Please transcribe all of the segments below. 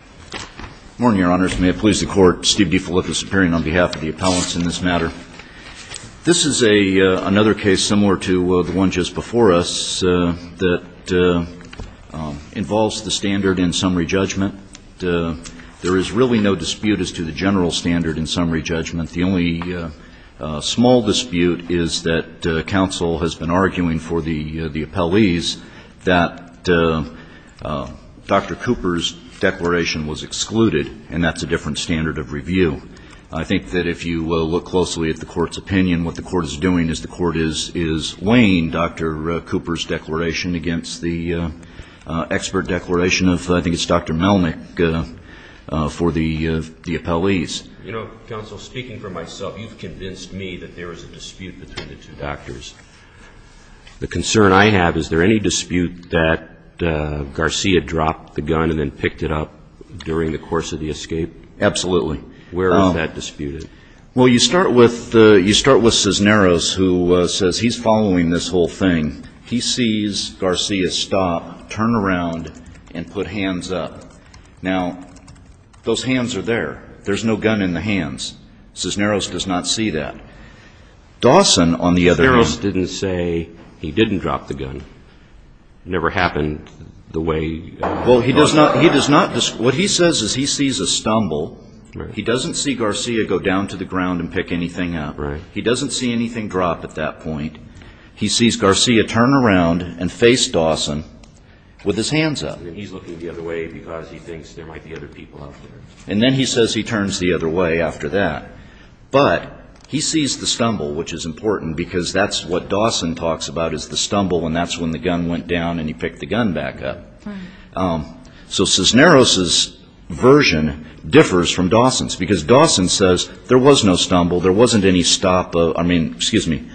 Good morning, Your Honors. May it please the Court, Steve DeFilippis appearing on behalf of the appellants in this matter. This is another case similar to the one just before us that involves the standard in summary judgment. There is really no dispute as to the general standard in summary judgment. The only small dispute is that counsel has been arguing for the appellees that Dr. Cooper's declaration was excluded, and that's a different standard of review. I think that if you look closely at the Court's opinion, what the Court is doing is the Court is laying Dr. Cooper's declaration against the expert declaration of, I think it's Dr. Melnick, for the appellees. You know, counsel, speaking for myself, you've convinced me that there is a dispute between the two doctors. The concern I have, is there any dispute that Garcia dropped the gun and then picked it up during the course of the escape? Absolutely. Where is that disputed? Well, you start with Cisneros, who says he's following this whole thing. He sees Garcia stop, turn around, and put hands up. Now, those hands are there. There's no gun in the hands. Cisneros does not see that. Dawson, on the other hand — Cisneros didn't say he didn't drop the gun. It never happened the way — Well, he does not — he does not — what he says is he sees a stumble. He doesn't see Garcia go down to the ground and pick anything up. He doesn't see anything drop at that point. He sees Garcia turn around and face Dawson with his hands up. And then he's looking the other way because he thinks there might be other people out there. And then he says he turns the other way after that. But he sees the stumble, which is important because that's what Dawson talks about, is the stumble, and that's when the gun went down and he picked the gun back up. So Cisneros' version differs from Dawson's because Dawson says there was no stumble. There wasn't any stop of — I mean, excuse me,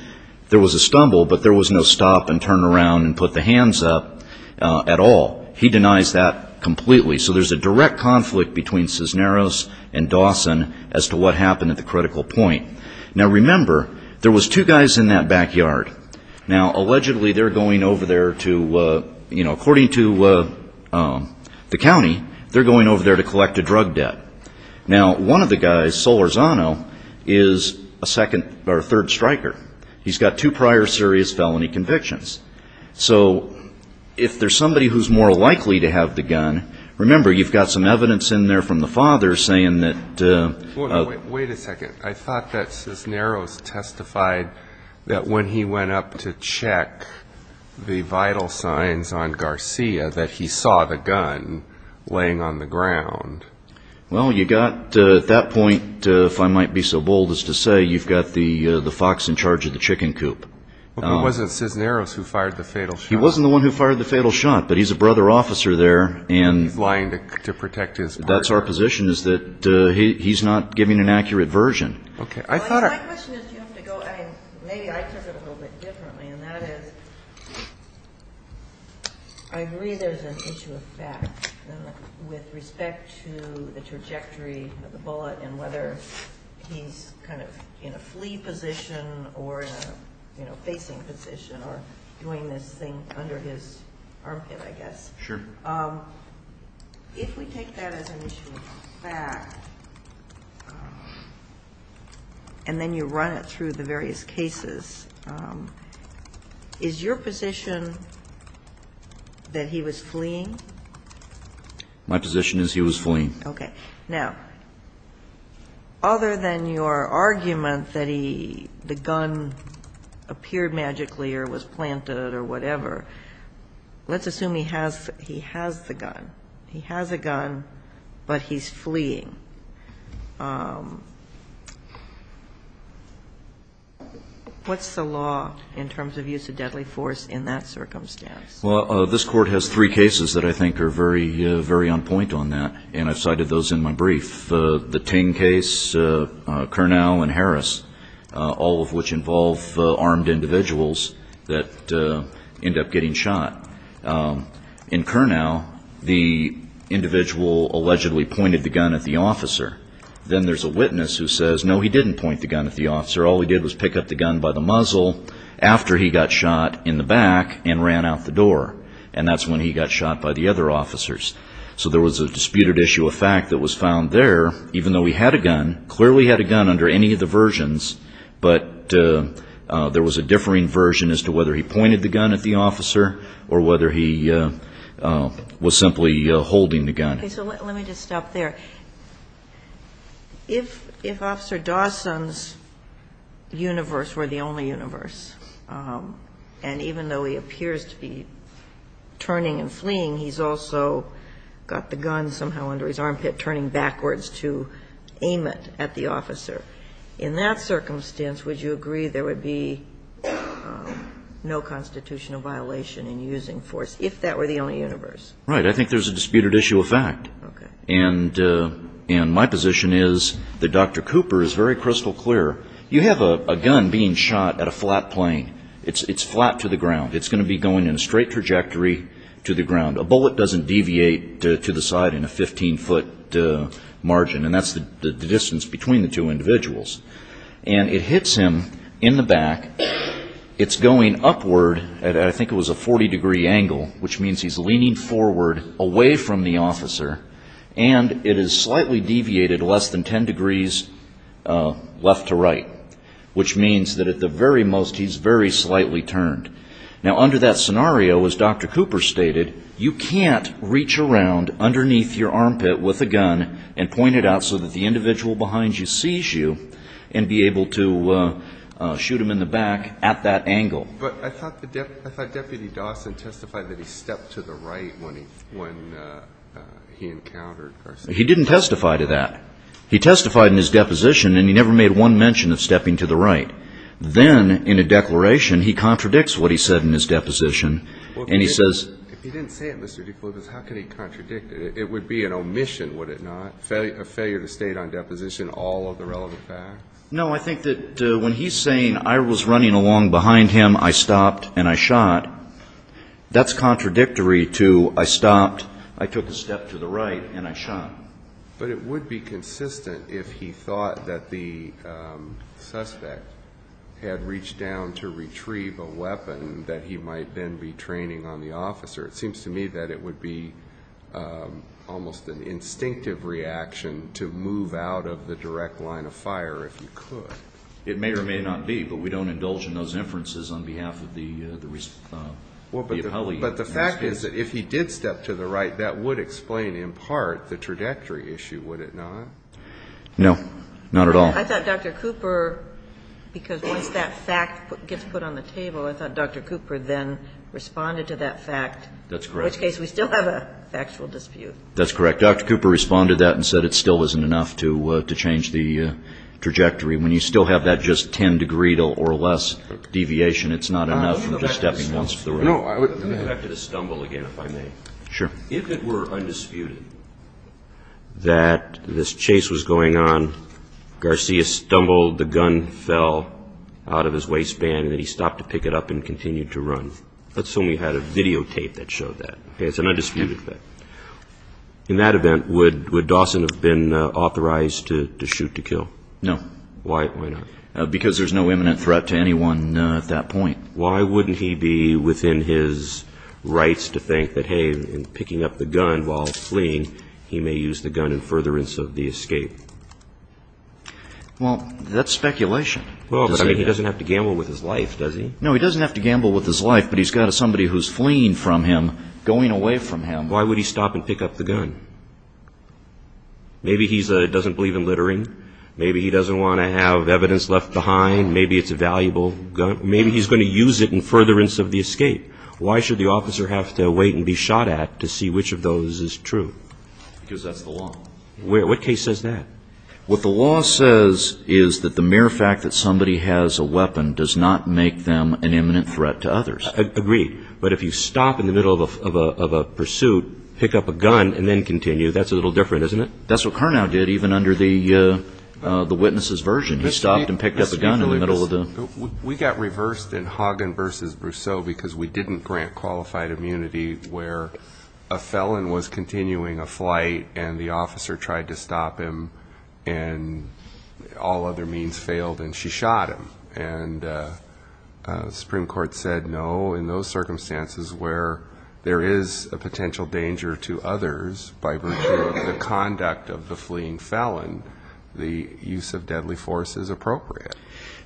there was a stumble, but there was no stop and turn around and put the hands up at all. He denies that completely. So there's a direct conflict between Cisneros and Dawson as to what happened at the critical point. Now, remember, there was two guys in that backyard. Now, allegedly, they're going over there to — you know, according to the county, they're going over there to collect a drug debt. Now, one of the guys, Solorzano, is a second or third striker. He's got two prior serious felony convictions. So if there's somebody who's more likely to have the gun, remember, you've got some evidence in there from the father saying that — Wait a second. I thought that Cisneros testified that when he went up to check the vital signs on Garcia that he saw the gun laying on the ground. Well, you got — at that point, if I might be so bold as to say, you've got the fox in charge of the chicken coop. It wasn't Cisneros who fired the fatal shot. He wasn't the one who fired the fatal shot, but he's a brother officer there. He's lying to protect his partner. That's our position is that he's not giving an accurate version. Okay. My question is, do you have to go — I mean, maybe I took it a little bit differently, and that is I agree there's an issue of fact with respect to the trajectory of the bullet and whether he's kind of in a flee position or in a, you know, facing position or doing this thing under his armpit, I guess. Sure. If we take that as an issue of fact and then you run it through the various cases, is your position that he was fleeing? My position is he was fleeing. Okay. Now, other than your argument that he — the gun appeared magically or was planted or whatever, let's assume he has the gun. He has a gun, but he's fleeing. What's the law in terms of use of deadly force in that circumstance? Well, this Court has three cases that I think are very, very on point on that, and I've cited those in my brief. The Ting case, Kurnow and Harris, all of which involve armed individuals that end up getting shot. In Kurnow, the individual allegedly pointed the gun at the officer. Then there's a witness who says, no, he didn't point the gun at the officer. All he did was pick up the gun by the muzzle after he got shot in the back and ran out the door, and that's when he got shot by the other officers. So there was a disputed issue of fact that was found there, even though he had a gun, clearly had a gun under any of the versions, but there was a differing version as to whether he pointed the gun at the officer or whether he was simply holding the gun. Okay. So let me just stop there. If Officer Dawson's universe were the only universe, and even though he appears to be turning and fleeing, he's also got the gun somehow under his armpit, turning backwards to aim it at the officer. In that circumstance, would you agree there would be no constitutional violation in using force, if that were the only universe? Right. I think there's a disputed issue of fact. Okay. And my position is that Dr. Cooper is very crystal clear. You have a gun being shot at a flat plane. It's flat to the ground. It's going to be going in a straight trajectory to the ground. A bullet doesn't deviate to the side in a 15-foot margin, and that's the distance between the two individuals. And it hits him in the back. It's going upward at I think it was a 40-degree angle, which means he's leaning forward away from the officer, and it is slightly deviated less than 10 degrees left to right, which means that at the very most he's very slightly turned. Now, under that scenario, as Dr. Cooper stated, you can't reach around underneath your armpit with a gun and point it out so that the individual behind you sees you and be able to shoot him in the back at that angle. But I thought Deputy Dawson testified that he stepped to the right when he encountered Garcetti. He didn't testify to that. He testified in his deposition, and he never made one mention of stepping to the right. Then in a declaration, he contradicts what he said in his deposition, and he says ---- If he didn't say it, Mr. DeFleur, how could he contradict it? It would be an omission, would it not, a failure to state on deposition all of the relevant facts? No. I think that when he's saying I was running along behind him, I stopped, and I shot, that's contradictory to I stopped, I took a step to the right, and I shot. But it would be consistent if he thought that the suspect had reached down to retrieve a weapon that he might then be training on the officer. It seems to me that it would be almost an instinctive reaction to move out of the direct line of fire if you could. It may or may not be, but we don't indulge in those inferences on behalf of the appellee. Well, but the fact is that if he did step to the right, that would explain in part the trajectory issue, would it not? No. Not at all. I thought Dr. Cooper, because once that fact gets put on the table, I thought Dr. Cooper then responded to that fact. That's correct. In which case we still have a factual dispute. That's correct. Dr. Cooper responded to that and said it still isn't enough to change the trajectory. When you still have that just 10 degree or less deviation, it's not enough from just stepping once to the right. Let me go back to the stumble again, if I may. Sure. If it were undisputed that this chase was going on, Garcia stumbled, the gun fell out of his waistband, and then he stopped to pick it up and continued to run. That's when we had a videotape that showed that. It's an undisputed fact. In that event, would Dawson have been authorized to shoot to kill? No. Why not? Because there's no imminent threat to anyone at that point. Why wouldn't he be within his rights to think that, hey, in picking up the gun while fleeing, he may use the gun in furtherance of the escape? Well, that's speculation. He doesn't have to gamble with his life, does he? No, he doesn't have to gamble with his life, but he's got somebody who's fleeing from him, going away from him. Why would he stop and pick up the gun? Maybe he doesn't believe in littering. Maybe he doesn't want to have evidence left behind. Maybe it's a valuable gun. Maybe he's going to use it in furtherance of the escape. Why should the officer have to wait and be shot at to see which of those is true? Because that's the law. What case says that? What the law says is that the mere fact that somebody has a weapon does not make them an imminent threat to others. Agreed. But if you stop in the middle of a pursuit, pick up a gun, and then continue, that's a little different, isn't it? That's what Carnow did, even under the witness's version. He stopped and picked up a gun in the middle of the pursuit. We got reversed in Hagen v. Brousseau because we didn't grant qualified immunity where a felon was continuing a flight and the officer tried to stop him and all other means failed and she shot him. And the Supreme Court said no in those circumstances where there is a potential danger to others by virtue of the conduct of the fleeing felon, the use of deadly force is appropriate.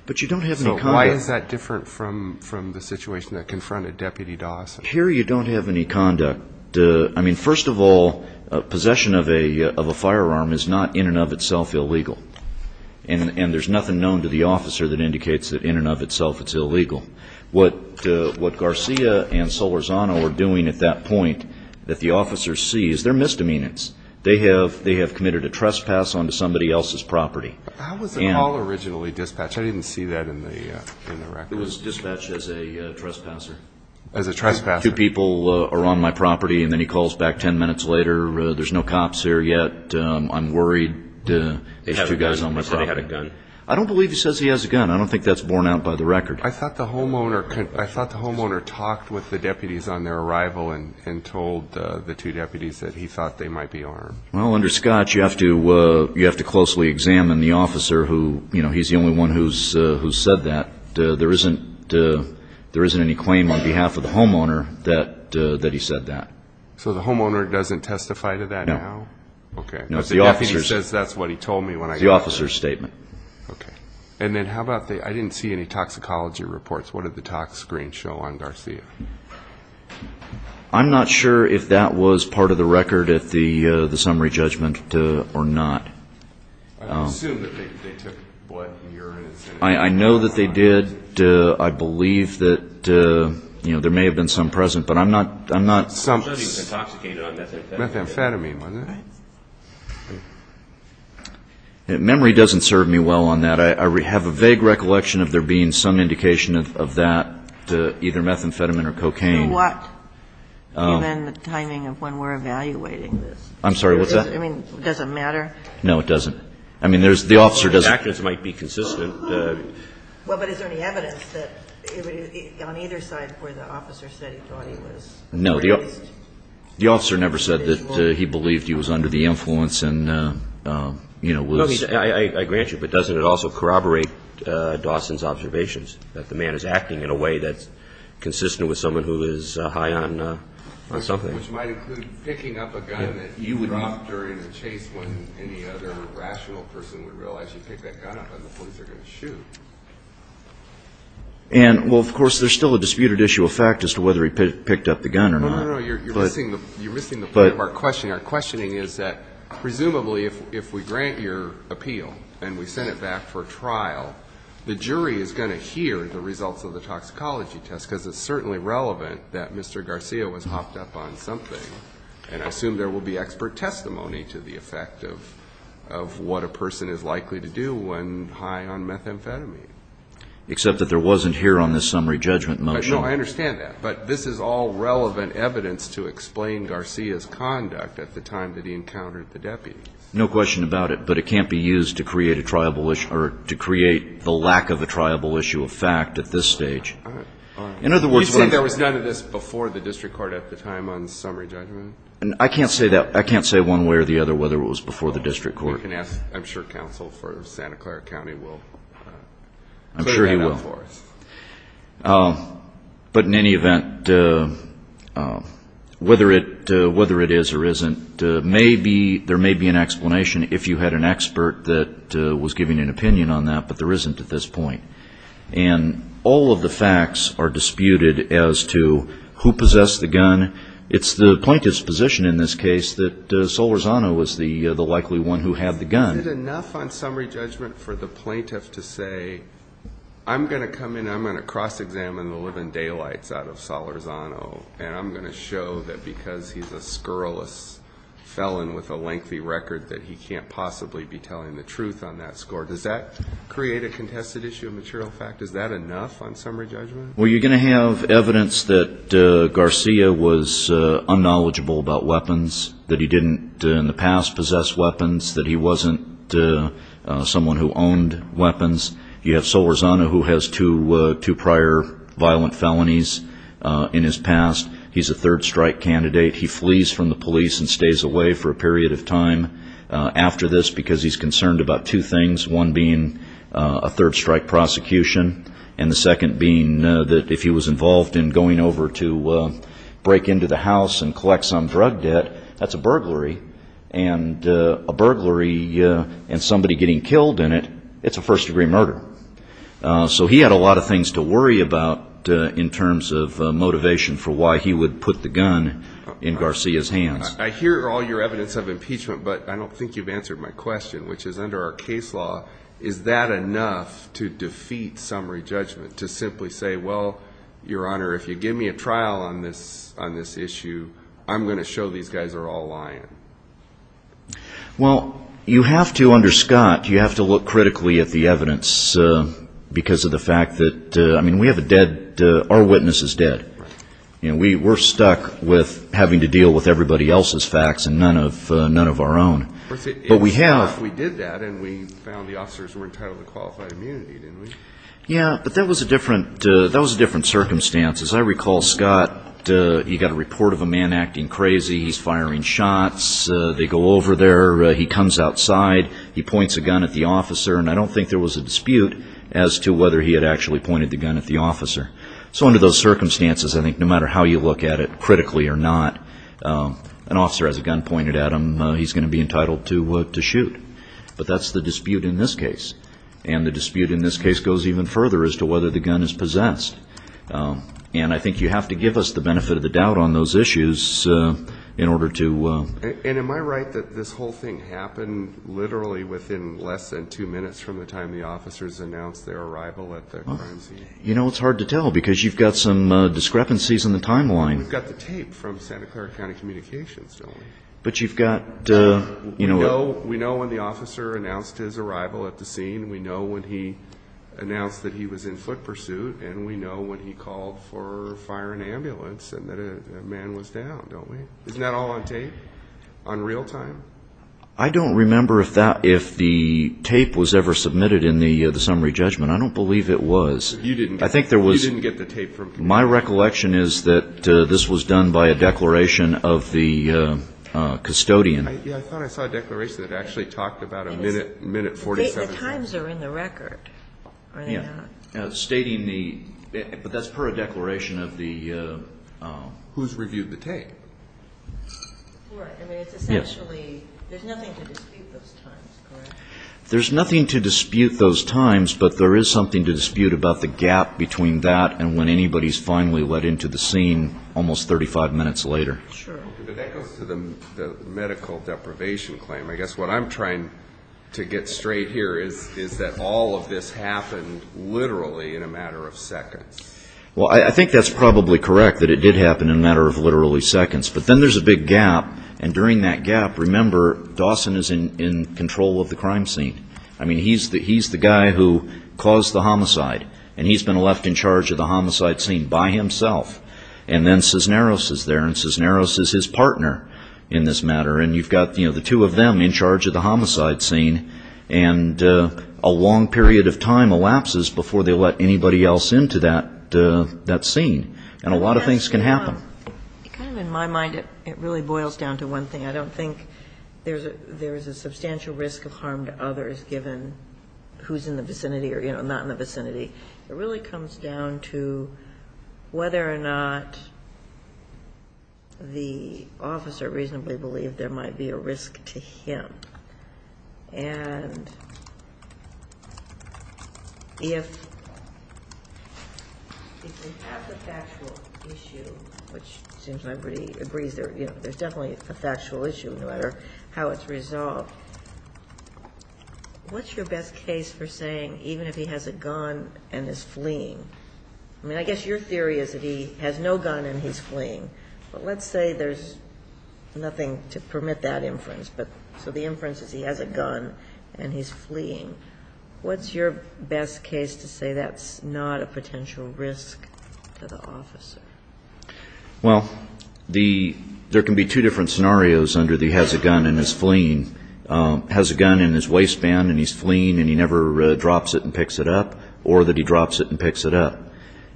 But you don't have any conduct. So why is that different from the situation that confronted Deputy Dawson? Here you don't have any conduct. I mean, first of all, possession of a firearm is not in and of itself illegal, and there's nothing known to the officer that indicates that in and of itself it's illegal. What Garcia and Solorzano are doing at that point that the officer sees, they're misdemeanors. They have committed a trespass onto somebody else's property. How was the call originally dispatched? I didn't see that in the record. It was dispatched as a trespasser. As a trespasser. Two people are on my property and then he calls back ten minutes later, there's no cops here yet, I'm worried. They have a gun. I don't believe he says he has a gun. I don't think that's borne out by the record. I thought the homeowner talked with the deputies on their arrival and told the two deputies that he thought they might be armed. Well, under Scotch, you have to closely examine the officer. He's the only one who's said that. There isn't any claim on behalf of the homeowner that he said that. So the homeowner doesn't testify to that now? No. Okay. But the deputy says that's what he told me when I got there. It's the officer's statement. Okay. And then how about the ‑‑ I didn't see any toxicology reports. What did the tox screen show on Garcia? I'm not sure if that was part of the record at the summary judgment or not. I assume that they took blood, urine. I know that they did. I believe that, you know, there may have been some present, but I'm not ‑‑ It said he was intoxicated on methamphetamine. Methamphetamine, wasn't it? Memory doesn't serve me well on that. I have a vague recollection of there being some indication of that to either methamphetamine or cocaine. To what? Given the timing of when we're evaluating this. I'm sorry. What's that? I mean, does it matter? No, it doesn't. I mean, there's ‑‑ the officer doesn't. The evidence might be consistent. Well, but is there any evidence that on either side where the officer said he thought he was? No. The officer never said that he believed he was under the influence and, you know, was ‑‑ I grant you. But doesn't it also corroborate Dawson's observations that the man is acting in a way that's consistent with someone who is high on something? Which might include picking up a gun that he dropped during the chase when any other rational person would realize he picked that gun up and the police are going to shoot. And, well, of course, there's still a disputed issue of fact as to whether he picked up the gun or not. No, no, no. You're missing the point of our questioning. Our questioning is that presumably if we grant your appeal and we send it back for trial, the jury is going to hear the results of the toxicology test because it's certainly relevant that Mr. Garcia was hopped up on something. And I assume there will be expert testimony to the effect of what a person is likely to do when high on methamphetamine. Except that there wasn't here on the summary judgment motion. No, I understand that. But this is all relevant evidence to explain Garcia's conduct at the time that he encountered the deputies. No question about it. But it can't be used to create a triable issue or to create the lack of a triable issue of fact at this stage. In other words, what I'm saying is... You said there was none of this before the district court at the time on summary judgment? I can't say that. I can't say one way or the other whether it was before the district court. You can ask, I'm sure, counsel for Santa Clara County will clear that up for us. I'm sure he will. But in any event, whether it is or isn't, there may be an explanation if you had an expert that was giving an opinion on that. But there isn't at this point. And all of the facts are disputed as to who possessed the gun. It's the plaintiff's position in this case that Solorzano was the likely one who had the gun. Is it enough on summary judgment for the plaintiff to say, I'm going to come in, I'm going to cross-examine the living daylights out of Solorzano, and I'm going to show that because he's a scurrilous felon with a lengthy record that he can't possibly be telling the truth on that score? Does that create a contested issue of material fact? Is that enough on summary judgment? Well, you're going to have evidence that Garcia was unknowledgeable about weapons, that he didn't in the past possess weapons, that he wasn't someone who owned weapons. You have Solorzano who has two prior violent felonies in his past. He's a third-strike candidate. He flees from the police and stays away for a period of time after this because he's concerned about two things, one being a third-strike prosecution and the second being that if he was involved in going over to break into the house and collect some drug debt, that's a burglary, and a burglary and somebody getting killed in it, it's a first-degree murder. So he had a lot of things to worry about in terms of motivation for why he would put the gun in Garcia's hands. I hear all your evidence of impeachment, but I don't think you've answered my question, which is under our case law, is that enough to defeat summary judgment, to simply say, well, Your Honor, if you give me a trial on this issue, I'm going to show these guys are all lying? Well, you have to under Scott, you have to look critically at the evidence because of the fact that, I mean, we have a dead, our witness is dead. We're stuck with having to deal with everybody else's facts and none of our own. But we have. We did that and we found the officers were entitled to qualified immunity, didn't we? Yeah, but that was a different circumstance. As I recall, Scott, he got a report of a man acting crazy. He's firing shots. They go over there. He comes outside. He points a gun at the officer, and I don't think there was a dispute as to whether he had actually pointed the gun at the officer. So under those circumstances, I think no matter how you look at it, critically or not, an officer has a gun pointed at him. He's going to be entitled to shoot. But that's the dispute in this case. And the dispute in this case goes even further as to whether the gun is possessed. And I think you have to give us the benefit of the doubt on those issues in order to. And am I right that this whole thing happened literally within less than two minutes from the time the officers announced their arrival at the crime scene? You know, it's hard to tell because you've got some discrepancies in the timeline. We've got the tape from Santa Clara County Communications, don't we? But you've got. We know when the officer announced his arrival at the scene. We know when he announced that he was in foot pursuit. And we know when he called for fire and ambulance and that a man was down, don't we? Isn't that all on tape, on real time? I don't remember if the tape was ever submitted in the summary judgment. I don't believe it was. You didn't get the tape from. My recollection is that this was done by a declaration of the custodian. I thought I saw a declaration that actually talked about a minute, minute 47. The times are in the record, are they not? Yeah. Stating the... but that's per a declaration of the... Who's reviewed the tape? I mean, it's essentially... Yes. There's nothing to dispute those times, correct? There's nothing to dispute those times, but there is something to dispute about the gap between that and when anybody's finally let into the scene almost 35 minutes later. Sure. But that goes to the medical deprivation claim. I guess what I'm trying to get straight here is that all of this happened literally in a matter of seconds. Well, I think that's probably correct, that it did happen in a matter of literally seconds. But then there's a big gap, and during that gap, remember, Dawson is in control of the crime scene. I mean, he's the guy who caused the homicide, and he's been left in charge of the homicide scene by himself. And then Cisneros is there, and Cisneros is his partner in this matter, and you've got the two of them in charge of the homicide scene, and a long period of time elapses before they let anybody else into that scene, and a lot of things can happen. Kind of in my mind, it really boils down to one thing. I don't think there's a substantial risk of harm to others, given who's in the vicinity or not in the vicinity. It really comes down to whether or not the officer reasonably believed there might be a risk to him. And if they have the factual issue, which seems like everybody agrees there's definitely a factual issue, no matter how it's resolved, what's your best case for saying, even if he has a gun and is fleeing? I mean, I guess your theory is that he has no gun and he's fleeing. But let's say there's nothing to permit that inference, but so the inference is he has a gun and he's fleeing. What's your best case to say that's not a potential risk to the officer? Well, there can be two different scenarios under the has a gun and is fleeing. Has a gun in his waistband and he's fleeing and he never drops it and picks it up, or that he drops it and picks it up.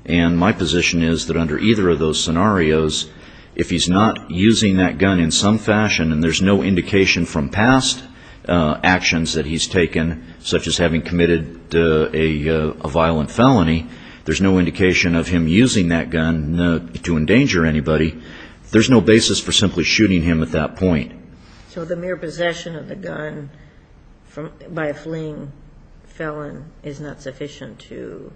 And my position is that under either of those scenarios, if he's not using that gun in some fashion and there's no indication from past actions that he's taken, such as having committed a violent felony, there's no indication of him using that gun to endanger anybody, there's no basis for simply shooting him at that point. So the mere possession of the gun by a fleeing felon is not sufficient to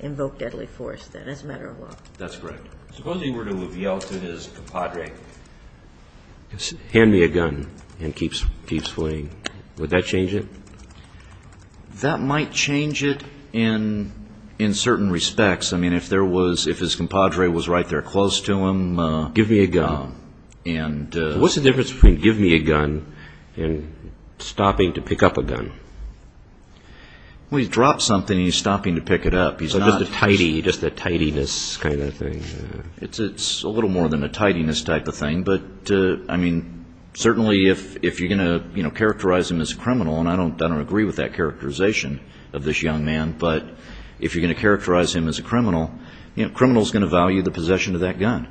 invoke deadly force, then? It's a matter of law. That's correct. Suppose he were to have yelled to his compadre, hand me a gun, and keeps fleeing. Would that change it? That might change it in certain respects. I mean, if his compadre was right there close to him, give me a gun. What's the difference between give me a gun and stopping to pick up a gun? Well, he drops something and he's stopping to pick it up. So just a tidiness kind of thing? It's a little more than a tidiness type of thing, but, I mean, certainly if you're going to characterize him as a criminal, and I don't agree with that characterization of this young man, but if you're going to characterize him as a criminal, a criminal is going to value the possession of that gun.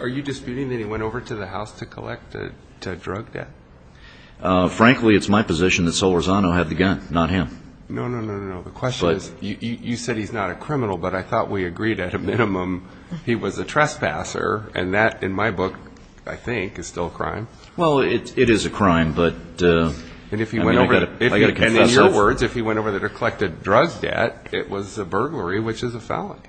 Are you disputing that he went over to the house to collect drug debt? Frankly, it's my position that Sol Rezano had the gun, not him. No, no, no, no, no. The question is, you said he's not a criminal, but I thought we agreed at a minimum he was a trespasser, and that, in my book, I think, is still a crime. Well, it is a crime, but I've got to confess. In your words, if he went over there to collect drug debt, it was a burglary, which is a felony.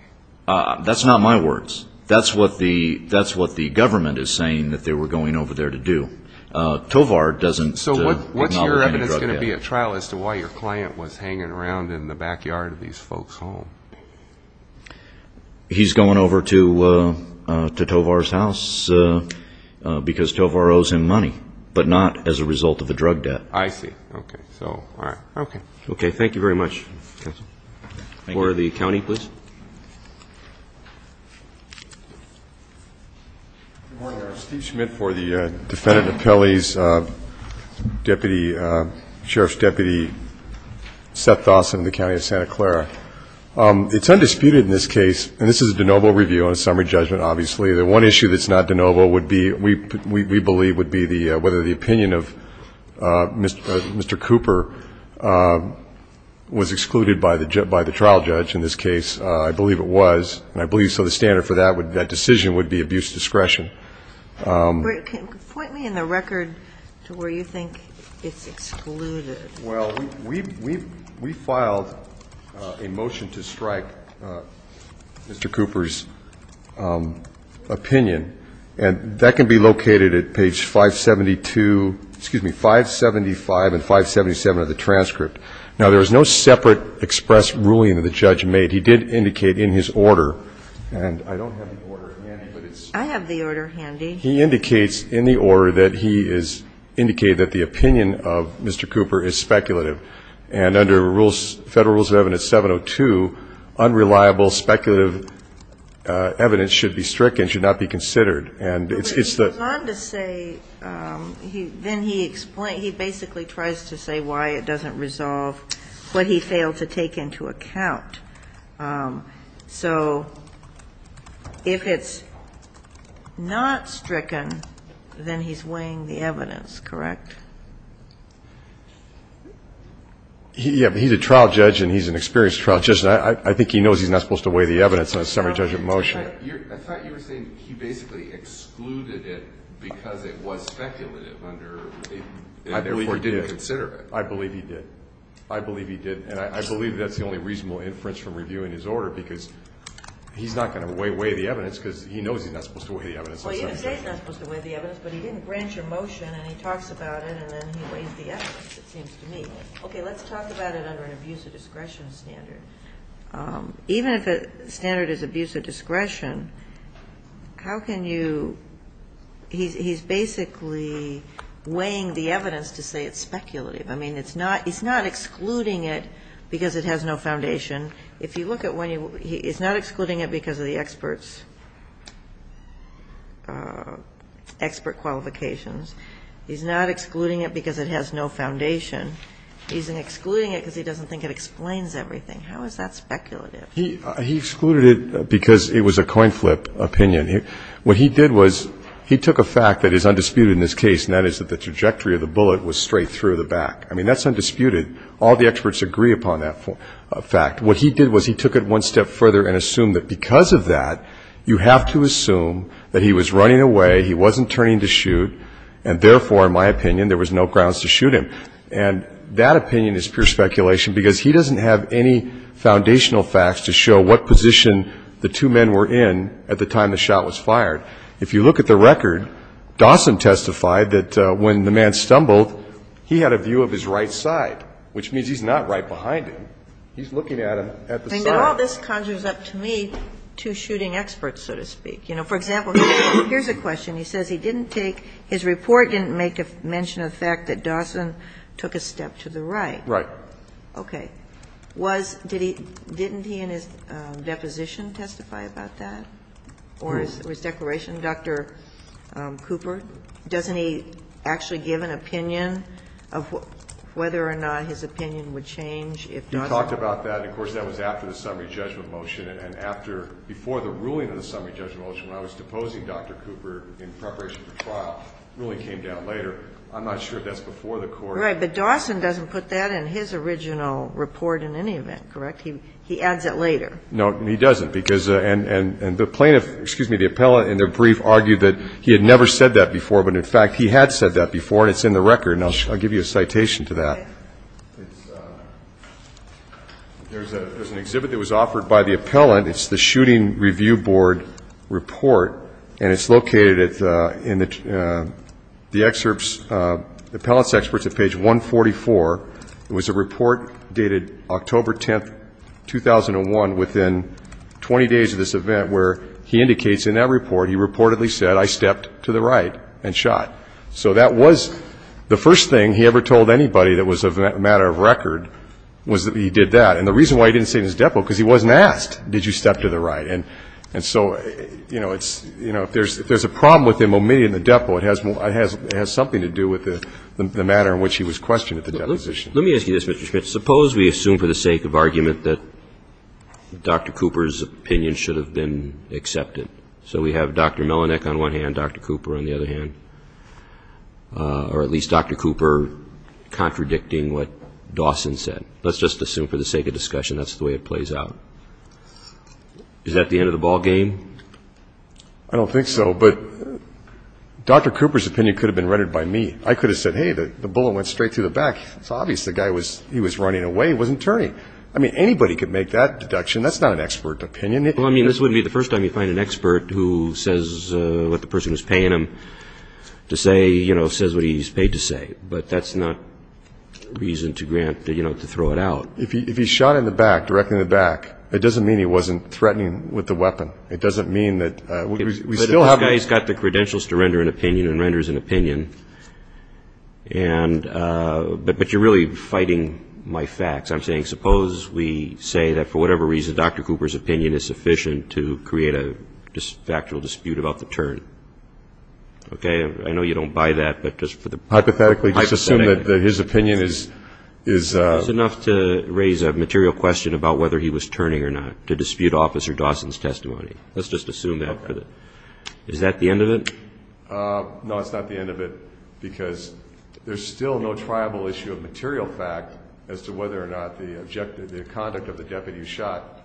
That's not my words. That's what the government is saying that they were going over there to do. Tovar doesn't acknowledge any drug debt. So what's your evidence going to be at trial as to why your client was hanging around in the backyard of these folks' home? He's going over to Tovar's house because Tovar owes him money, but not as a result of the drug debt. I see. Okay. So, all right. Okay. Okay. Thank you very much. Thank you. For the county, please. Good morning. I'm Steve Schmidt for the defendant appellee's deputy sheriff's deputy, Seth Dawson, in the county of Santa Clara. It's undisputed in this case, and this is a de novo review and a summary judgment, obviously, the one issue that's not de novo would be we believe would be whether the opinion of Mr. Cooper was excluded by the trial judge in this case. I believe it was, and I believe so the standard for that decision would be abuse discretion. Point me in the record to where you think it's excluded. Well, we filed a motion to strike Mr. Cooper's opinion, and that can be located at page 572, excuse me, 575 and 577 of the transcript. Now, there is no separate express ruling that the judge made. He did indicate in his order, and I don't have the order handy, but it's the same. I have the order handy. He indicates in the order that he has indicated that the opinion of Mr. Cooper is speculative. And under Federal Rules of Evidence 702, unreliable speculative evidence should be stricken, should not be considered. But he goes on to say, then he basically tries to say why it doesn't resolve what he failed to take into account. So if it's not stricken, then he's weighing the evidence, correct? Yeah, but he's a trial judge, and he's an experienced trial judge, and I think he knows he's not supposed to weigh the evidence on a summary judgment motion. I thought you were saying he basically excluded it because it was speculative under a rule, and therefore didn't consider it. I believe he did. I believe he did. And I believe that's the only reasonable inference from reviewing his order, because he's not going to weigh the evidence because he knows he's not supposed to weigh the evidence on a summary judgment. Well, you can say he's not supposed to weigh the evidence, but he didn't grant your motion, and he talks about it, and then he weighs the evidence, it seems to me. Okay. Let's talk about it under an abuse of discretion standard. Even if the standard is abuse of discretion, how can you – he's basically weighing the evidence to say it's speculative. I mean, it's not – he's not excluding it because it has no foundation. If you look at when you – he's not excluding it because of the expert's – expert qualifications. He's not excluding it because it has no foundation. He's excluding it because he doesn't think it explains everything. How is that speculative? He excluded it because it was a coin flip opinion. What he did was he took a fact that is undisputed in this case, and that is that the trajectory of the bullet was straight through the back. I mean, that's undisputed. All the experts agree upon that fact. What he did was he took it one step further and assumed that because of that, you have to assume that he was running away, he wasn't turning to shoot, and therefore, in my opinion, there was no grounds to shoot him. And that opinion is pure speculation because he doesn't have any foundational facts to show what position the two men were in at the time the shot was fired. If you look at the record, Dawson testified that when the man stumbled, he had a view of his right side, which means he's not right behind him. He's looking at him at the side. And all this conjures up to me two shooting experts, so to speak. You know, for example, here's a question. He says he didn't take – his report didn't make mention of the fact that Dawson took a step to the right. Right. Okay. Was – did he – didn't he in his deposition testify about that? Or his declaration, Dr. Cooper? Doesn't he actually give an opinion of whether or not his opinion would change if Dawson – He talked about that. Of course, that was after the summary judgment motion, and after – before the ruling of the summary judgment motion, when I was deposing Dr. Cooper in preparation for trial, the ruling came down later. I'm not sure if that's before the court. Right. But Dawson doesn't put that in his original report in any event, correct? He adds it later. No, he doesn't, because – and the plaintiff – excuse me, the appellant in their brief argued that he had never said that before, but in fact, he had said that before, and it's in the record, and I'll give you a citation to that. Okay. It's – there's an exhibit that was offered by the appellant. It's the Shooting Review Board report, and it's located in the excerpts – the appellant's excerpts at page 144. It was a report dated October 10, 2001, within 20 days of this event, where he indicates in that report he reportedly said, I stepped to the right and shot. So that was – the first thing he ever told anybody that was a matter of record was that he did that. And the reason why he didn't say it in his depo, because he wasn't asked, did you step to the right. And so, you know, it's – you know, if there's a problem with him omitting the depo, it has – it has something to do with the matter in which he was questioned at the deposition. Let me ask you this, Mr. Schmidt. Suppose we assume for the sake of argument that Dr. Cooper's opinion should have been accepted. So we have Dr. Melinek on one hand, Dr. Cooper on the other hand, or at least Dr. Cooper contradicting what Dawson said. Let's just assume for the sake of discussion that's the way it plays out. Is that the end of the ballgame? I don't think so, but Dr. Cooper's opinion could have been rendered by me. I could have said, hey, the bullet went straight through the back. It's obvious the guy was – he was running away. He wasn't turning. I mean, anybody could make that deduction. That's not an expert opinion. Well, I mean, this wouldn't be the first time you find an expert who says what the person is paying him to say, you know, says what he's paid to say. But that's not reason to grant, you know, to throw it out. If he shot in the back, directly in the back, it doesn't mean he wasn't threatening with the weapon. It doesn't mean that we still have – and renders an opinion, and – but you're really fighting my facts. I'm saying suppose we say that for whatever reason Dr. Cooper's opinion is sufficient to create a factual dispute about the turn. Okay? I know you don't buy that, but just for the – Hypothetically, just assume that his opinion is – It's enough to raise a material question about whether he was turning or not to dispute Officer Dawson's testimony. Let's just assume that. Okay. Is that the end of it? No, it's not the end of it because there's still no triable issue of material fact as to whether or not the objective – the conduct of the deputy who shot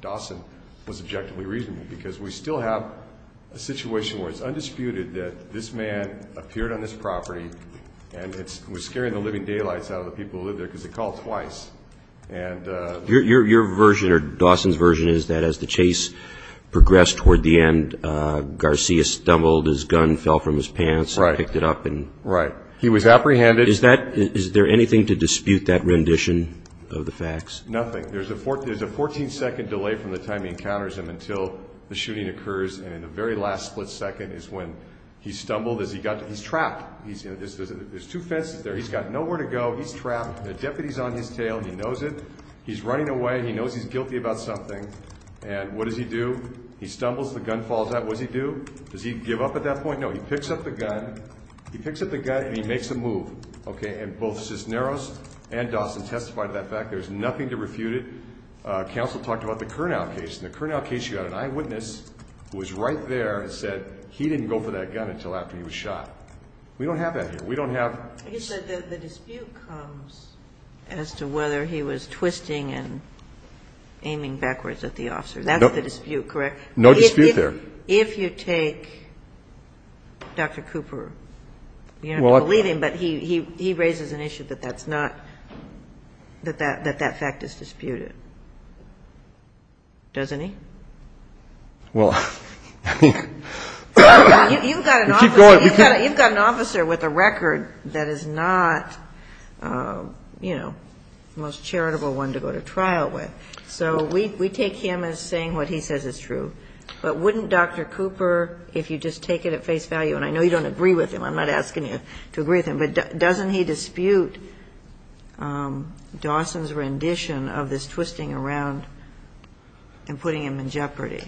Dawson was objectively reasonable because we still have a situation where it's undisputed that this man appeared on this property and was scaring the living daylights out of the people who lived there because he called twice. Your version or Dawson's version is that as the chase progressed toward the end, Garcia stumbled, his gun fell from his pants, and picked it up and – Right. He was apprehended. Is that – is there anything to dispute that rendition of the facts? Nothing. There's a 14-second delay from the time he encounters him until the shooting occurs, and in the very last split second is when he stumbled as he got – he's trapped. There's two fences there. He's got nowhere to go. He's trapped. The deputy's on his tail. He knows it. He's running away. He knows he's guilty about something. And what does he do? He stumbles. The gun falls out. What does he do? Does he give up at that point? No. He picks up the gun. He picks up the gun and he makes a move. Okay. And both Cisneros and Dawson testified to that fact. There's nothing to refute it. Counsel talked about the Kurnow case. In the Kurnow case, you had an eyewitness who was right there and said he didn't go for that gun until after he was shot. We don't have that here. We don't have – I guess the dispute comes as to whether he was twisting and aiming backwards at the officer. That's the dispute, correct? No dispute there. If you take Dr. Cooper, you don't have to believe him, but he raises an issue that that's not – that that fact is disputed, doesn't he? Well, I mean – You've got an officer. You've got an officer with a record that is not, you know, the most charitable one to go to trial with. So we take him as saying what he says is true. But wouldn't Dr. Cooper, if you just take it at face value – and I know you don't agree with him. I'm not asking you to agree with him. But doesn't he dispute Dawson's rendition of this twisting around and putting him in jeopardy?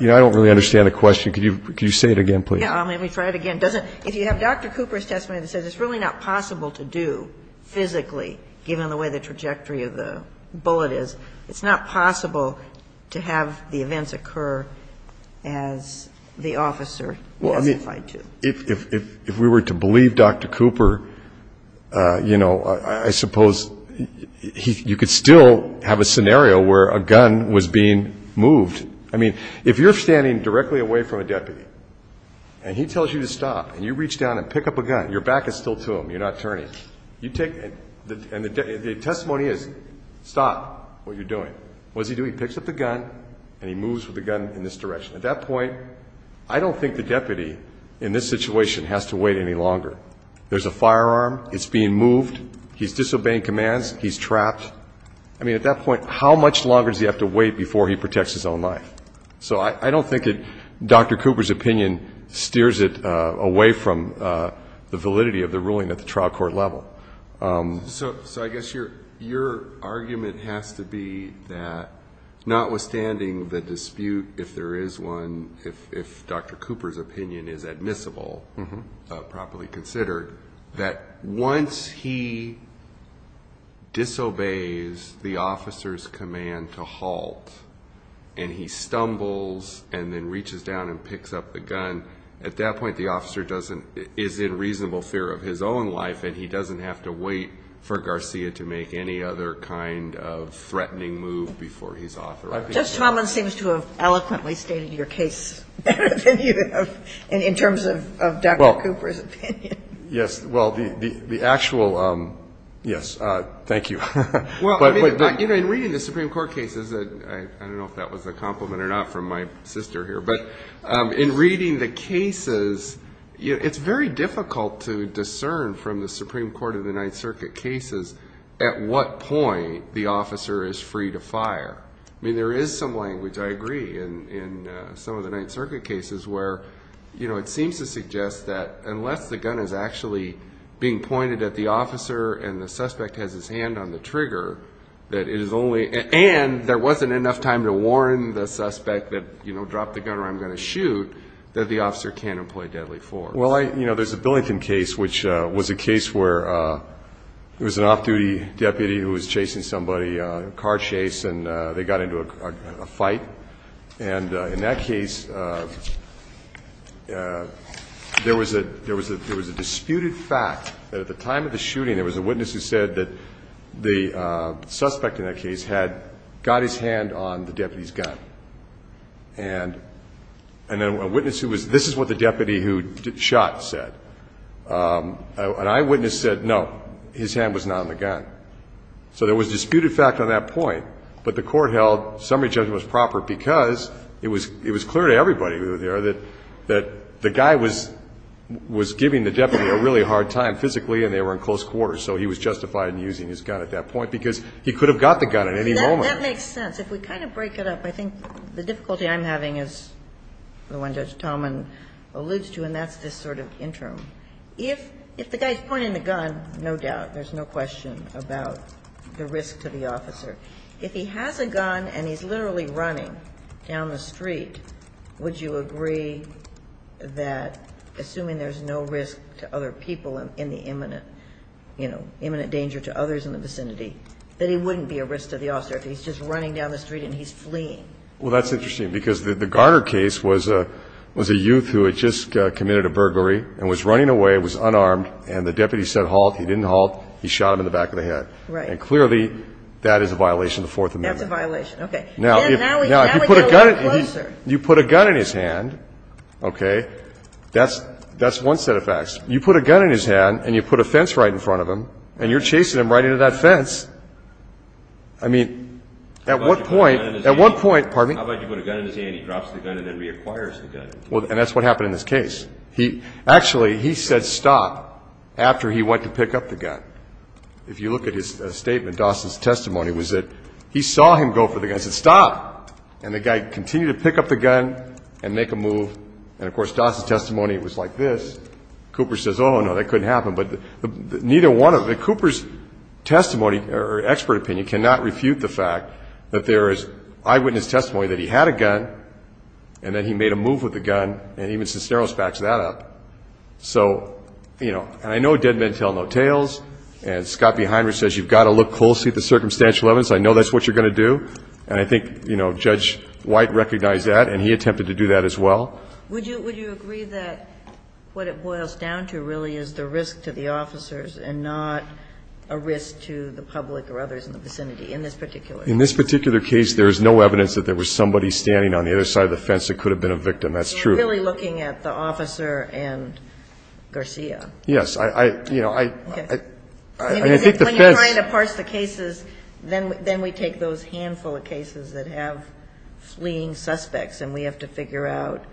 You know, I don't really understand the question. Could you say it again, please? Let me try it again. If you have Dr. Cooper's testimony that says it's really not possible to do physically, given the way the trajectory of the bullet is, it's not possible to have the events occur as the officer testified to. Well, I mean, if we were to believe Dr. Cooper, you know, I suppose you could still have a scenario where a gun was being moved. I mean, if you're standing directly away from a deputy and he tells you to stop and you reach down and pick up a gun, your back is still to him. You're not turning. And the testimony is stop what you're doing. What does he do? He picks up the gun and he moves with the gun in this direction. At that point, I don't think the deputy in this situation has to wait any longer. There's a firearm. It's being moved. He's disobeying commands. He's trapped. I mean, at that point, how much longer does he have to wait before he protects his own life? So I don't think Dr. Cooper's opinion steers it away from the validity of the ruling at the trial court level. So I guess your argument has to be that notwithstanding the dispute, if there is one, if Dr. Cooper's opinion is admissible, properly considered, that once he disobeys the officer's command to halt and he stumbles and then reaches down and picks up the gun, at that point the officer is in reasonable fear of his own life and he doesn't have to wait for Garcia to make any other kind of threatening move before he's authorized. Judge Tomlin seems to have eloquently stated your case better than you have in terms of Dr. Cooper's opinion. Yes. Well, the actual yes. Thank you. Well, I mean, in reading the Supreme Court cases, I don't know if that was a compliment or not from my sister here, but in reading the cases, it's very difficult to discern from the Supreme Court of the Ninth Circuit cases at what point the officer is free to fire. I mean, there is some language, I agree, in some of the Ninth Circuit cases where, you know, it seems to suggest that unless the gun is actually being pointed at the officer and the suspect has his hand on the trigger, that it is only and there wasn't enough time to warn the suspect that, you know, drop the gun or I'm going to shoot, that the officer can't employ deadly force. Well, you know, there's a Billington case, which was a case where it was an off-duty deputy who was chasing somebody, a car chase, and they got into a fight. And in that case, there was a disputed fact that at the time of the shooting, there was a witness who said that the suspect in that case had got his hand on the deputy's gun. And then a witness who was, this is what the deputy who shot said. An eyewitness said, no, his hand was not on the gun. So there was disputed fact on that point. But the Court held summary judgment was proper because it was clear to everybody who was there that the guy was giving the deputy a really hard time physically and they were in close quarters. So he was justified in using his gun at that point because he could have got the gun at any moment. That makes sense. If we kind of break it up, I think the difficulty I'm having is the one Judge Tallman alludes to, and that's this sort of interim. If the guy's pointing the gun, no doubt, there's no question about the risk to the officer. If he has a gun and he's literally running down the street, would you agree that, assuming there's no risk to other people in the imminent, you know, imminent danger to others in the vicinity, that he wouldn't be a risk to the officer if he's just running down the street and he's fleeing? Well, that's interesting because the Garner case was a youth who had just committed a burglary and was running away, was unarmed, and the deputy said halt. He didn't halt. He shot him in the back of the head. Right. And clearly, that is a violation of the Fourth Amendment. That's a violation. Okay. Now, if you put a gun in his hand, okay, that's one set of facts. You put a gun in his hand and you put a fence right in front of him and you're chasing him right into that fence. I mean, at one point, at one point, pardon me? How about you put a gun in his hand, he drops the gun and then reacquires the gun? And that's what happened in this case. Actually, he said stop after he went to pick up the gun. If you look at his statement, Dawson's testimony was that he saw him go for the gun, said stop, and the guy continued to pick up the gun and make a move. And, of course, Dawson's testimony was like this. Cooper says, oh, no, that couldn't happen. But neither one of them, Cooper's testimony or expert opinion cannot refute the fact that there is eyewitness testimony that he had a gun and that he made a move with the gun and even Cisneros backs that up. So, you know, and I know dead men tell no tales. And Scott Behinrich says you've got to look closely at the circumstantial evidence. I know that's what you're going to do. And I think, you know, Judge White recognized that and he attempted to do that as well. Would you agree that what it boils down to really is the risk to the officers and not a risk to the public or others in the vicinity in this particular case? In this particular case, there is no evidence that there was somebody standing on the other side of the fence that could have been a victim. That's true. So you're really looking at the officer and Garcia? Yes. I, you know, I think the fence. When you're trying to parse the cases, then we take those handful of cases that have fleeing suspects and we have to figure out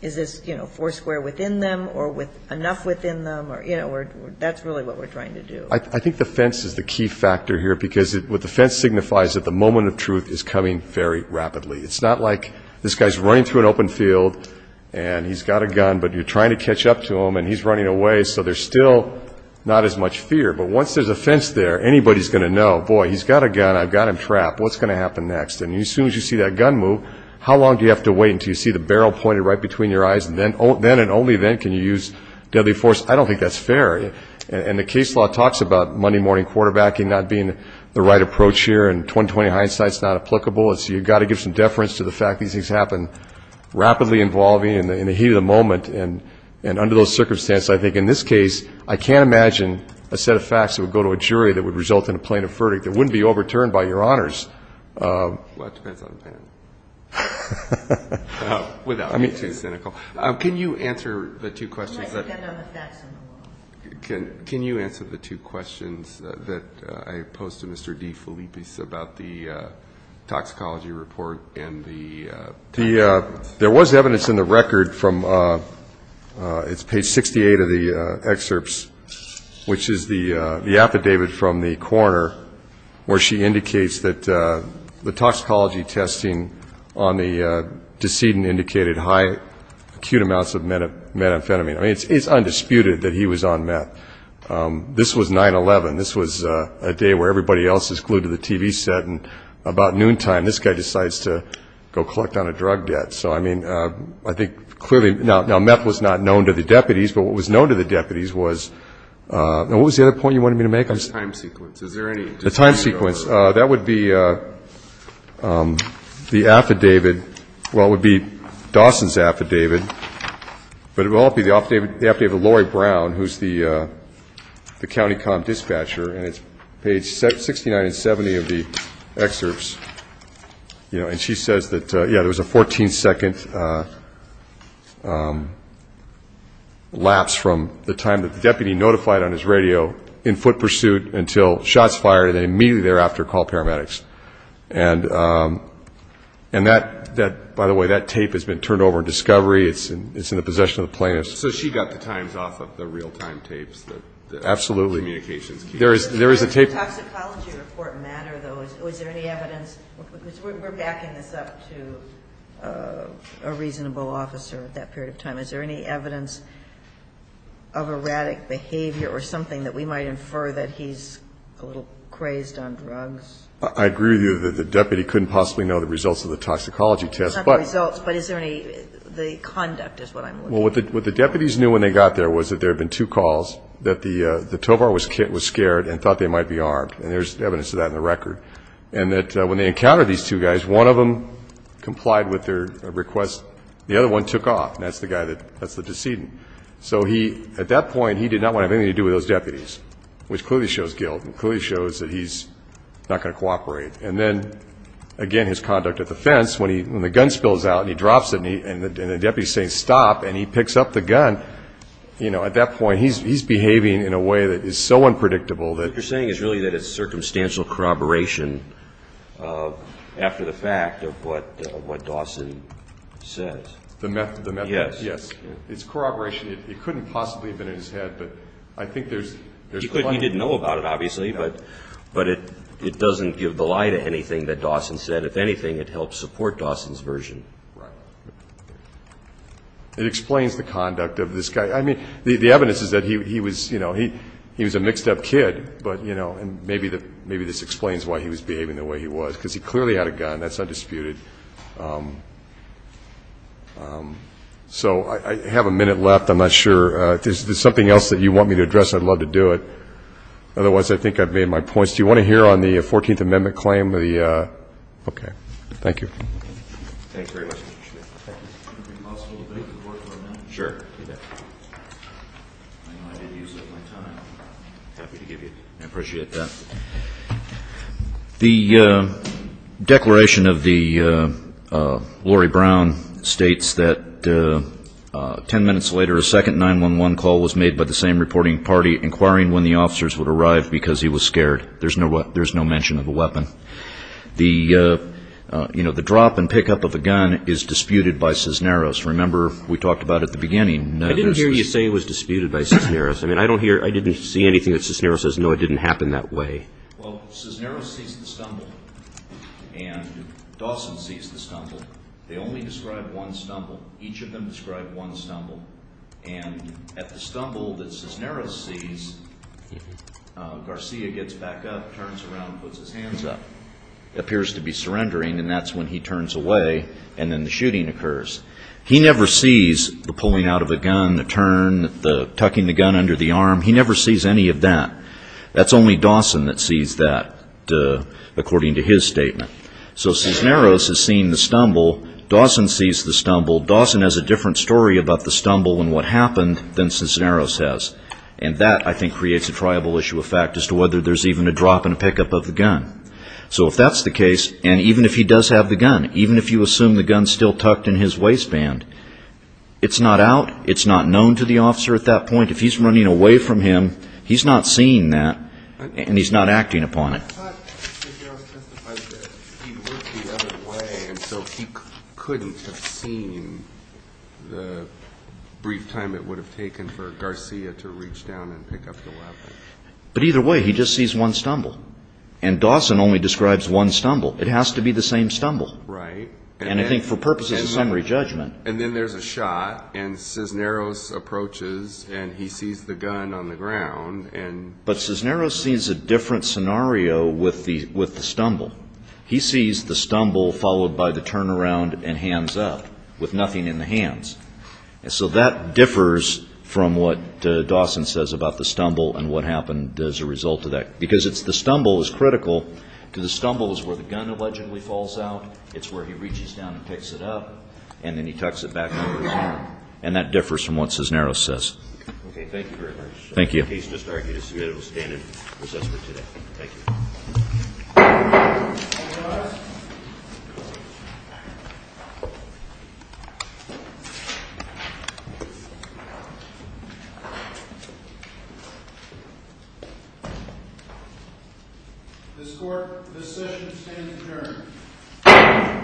is this, you know, four square within them or enough within them or, you know, that's really what we're trying to do. I think the fence is the key factor here because what the fence signifies is that the moment of truth is coming very rapidly. It's not like this guy's running through an open field and he's got a gun, but you're trying to catch up to him and he's running away, so there's still not as much fear. But once there's a fence there, anybody's going to know, boy, he's got a gun. I've got him trapped. What's going to happen next? And as soon as you see that gun move, how long do you have to wait until you see the barrel pointed right between your eyes and then and only then can you use deadly force? I don't think that's fair. And the case law talks about Monday morning quarterbacking not being the right approach here and 20-20 hindsight's not applicable. So you've got to give some deference to the fact these things happen rapidly involving in the heat of the moment and under those circumstances, I think in this case, I can't imagine a set of facts that would go to a jury that would result in a plaintiff verdict that wouldn't be overturned by your honors. Well, it depends on the panel. Without being too cynical. Can you answer the two questions? Can you answer the two questions that I posed to Mr. DeFilippis about the toxicology report and the test results? There was evidence in the record from page 68 of the excerpts, which is the affidavit from the coroner where she indicates that the toxicology testing on the decedent indicated high acute amounts of methamphetamine. I mean, it's undisputed that he was on meth. This was 9-11. This was a day where everybody else is glued to the TV set, and about noontime, this guy decides to go collect on a drug debt. So, I mean, I think clearly now meth was not known to the deputies, but what was known to the deputies was now what was the other point you wanted me to make? The time sequence. Is there any? The time sequence. That would be the affidavit. Well, it would be Dawson's affidavit, but it would also be the affidavit of Lori Brown, who's the county comm dispatcher, and it's page 69 and 70 of the excerpts. And she says that, yeah, there was a 14-second lapse from the time that the deputy notified on his radio in foot pursuit until shots fired and then immediately thereafter called paramedics. And that, by the way, that tape has been turned over in discovery. It's in the possession of the plaintiffs. So she got the times off of the real-time tapes, the communications tapes? Absolutely. There is a tape. Does the toxicology report matter, though? Is there any evidence? Because we're backing this up to a reasonable officer at that period of time. Is there any evidence of erratic behavior or something that we might infer that he's a little crazed on drugs? I agree with you that the deputy couldn't possibly know the results of the toxicology test. Not the results, but is there any, the conduct is what I'm looking for. Well, what the deputies knew when they got there was that there had been two calls, that the TOVAR was scared and thought they might be armed. And there's evidence of that in the record. And that when they encountered these two guys, one of them complied with their request. The other one took off, and that's the guy that, that's the decedent. So he, at that point, he did not want to have anything to do with those deputies, which clearly shows guilt and clearly shows that he's not going to cooperate. And then, again, his conduct at the fence, when the gun spills out and he drops it and the deputy is saying, stop, and he picks up the gun, you know, at that point, he's behaving in a way that is so unpredictable that. What you're saying is really that it's circumstantial corroboration after the fact of what Dawson says. The method, yes. Yes. It's corroboration. It couldn't possibly have been in his head, but I think there's plenty. He didn't know about it, obviously, but it doesn't give the lie to anything that Dawson said. If anything, it helps support Dawson's version. Right. It explains the conduct of this guy. I mean, the evidence is that he was, you know, he was a mixed-up kid, but, you know, and maybe this explains why he was behaving the way he was, because he clearly had a gun. That's undisputed. So I have a minute left. I'm not sure. If there's something else that you want me to address, I'd love to do it. Otherwise, I think I've made my points. Do you want to hear on the 14th Amendment claim? Okay. Thank you. Thank you very much, Mr. Chief. Thank you. Could we pause for a minute? Sure. I know I did use up my time. I'm happy to give you it. I appreciate that. The declaration of the Laurie Brown states that 10 minutes later, a second 911 call was made by the same reporting party, inquiring when the officers would arrive because he was scared. There's no mention of a weapon. You know, the drop and pick-up of a gun is disputed by Cisneros. Remember, we talked about it at the beginning. I didn't hear you say it was disputed by Cisneros. I didn't see anything that Cisneros says, no, it didn't happen that way. Well, Cisneros sees the stumble and Dawson sees the stumble. They only describe one stumble. Each of them describe one stumble. And at the stumble that Cisneros sees, Garcia gets back up, turns around, puts his hands up, appears to be surrendering, and that's when he turns away and then the shooting occurs. He never sees the pulling out of a gun, the turn, the tucking the gun under the arm. He never sees any of that. That's only Dawson that sees that, according to his statement. So Cisneros has seen the stumble. Dawson sees the stumble. Dawson has a different story about the stumble and what happened than Cisneros has. And that, I think, creates a triable issue of fact as to whether there's even a drop and a pick-up of the gun. So if that's the case, and even if he does have the gun, even if you assume the gun's still tucked in his waistband, it's not out, it's not known to the officer at that point. If he's running away from him, he's not seeing that and he's not acting upon it. But Cisneros testified that he looked the other way and so he couldn't have seen the brief time it would have taken for Garcia to reach down and pick up the weapon. But either way, he just sees one stumble. And Dawson only describes one stumble. It has to be the same stumble. Right. And I think for purposes of summary judgment. And then there's a shot and Cisneros approaches and he sees the gun on the ground. But Cisneros sees a different scenario with the stumble. He sees the stumble followed by the turnaround and hands up with nothing in the hands. So that differs from what Dawson says about the stumble and what happened as a result of that. Because the stumble is critical because the stumble is where the gun allegedly falls out. It's where he reaches down and picks it up and then he tucks it back in his hand. And that differs from what Cisneros says. Okay. Thank you very much. Thank you. The case, Mr. Arkey, to submit it will stand in recess for today. Thank you. This Court, this session stands adjourned.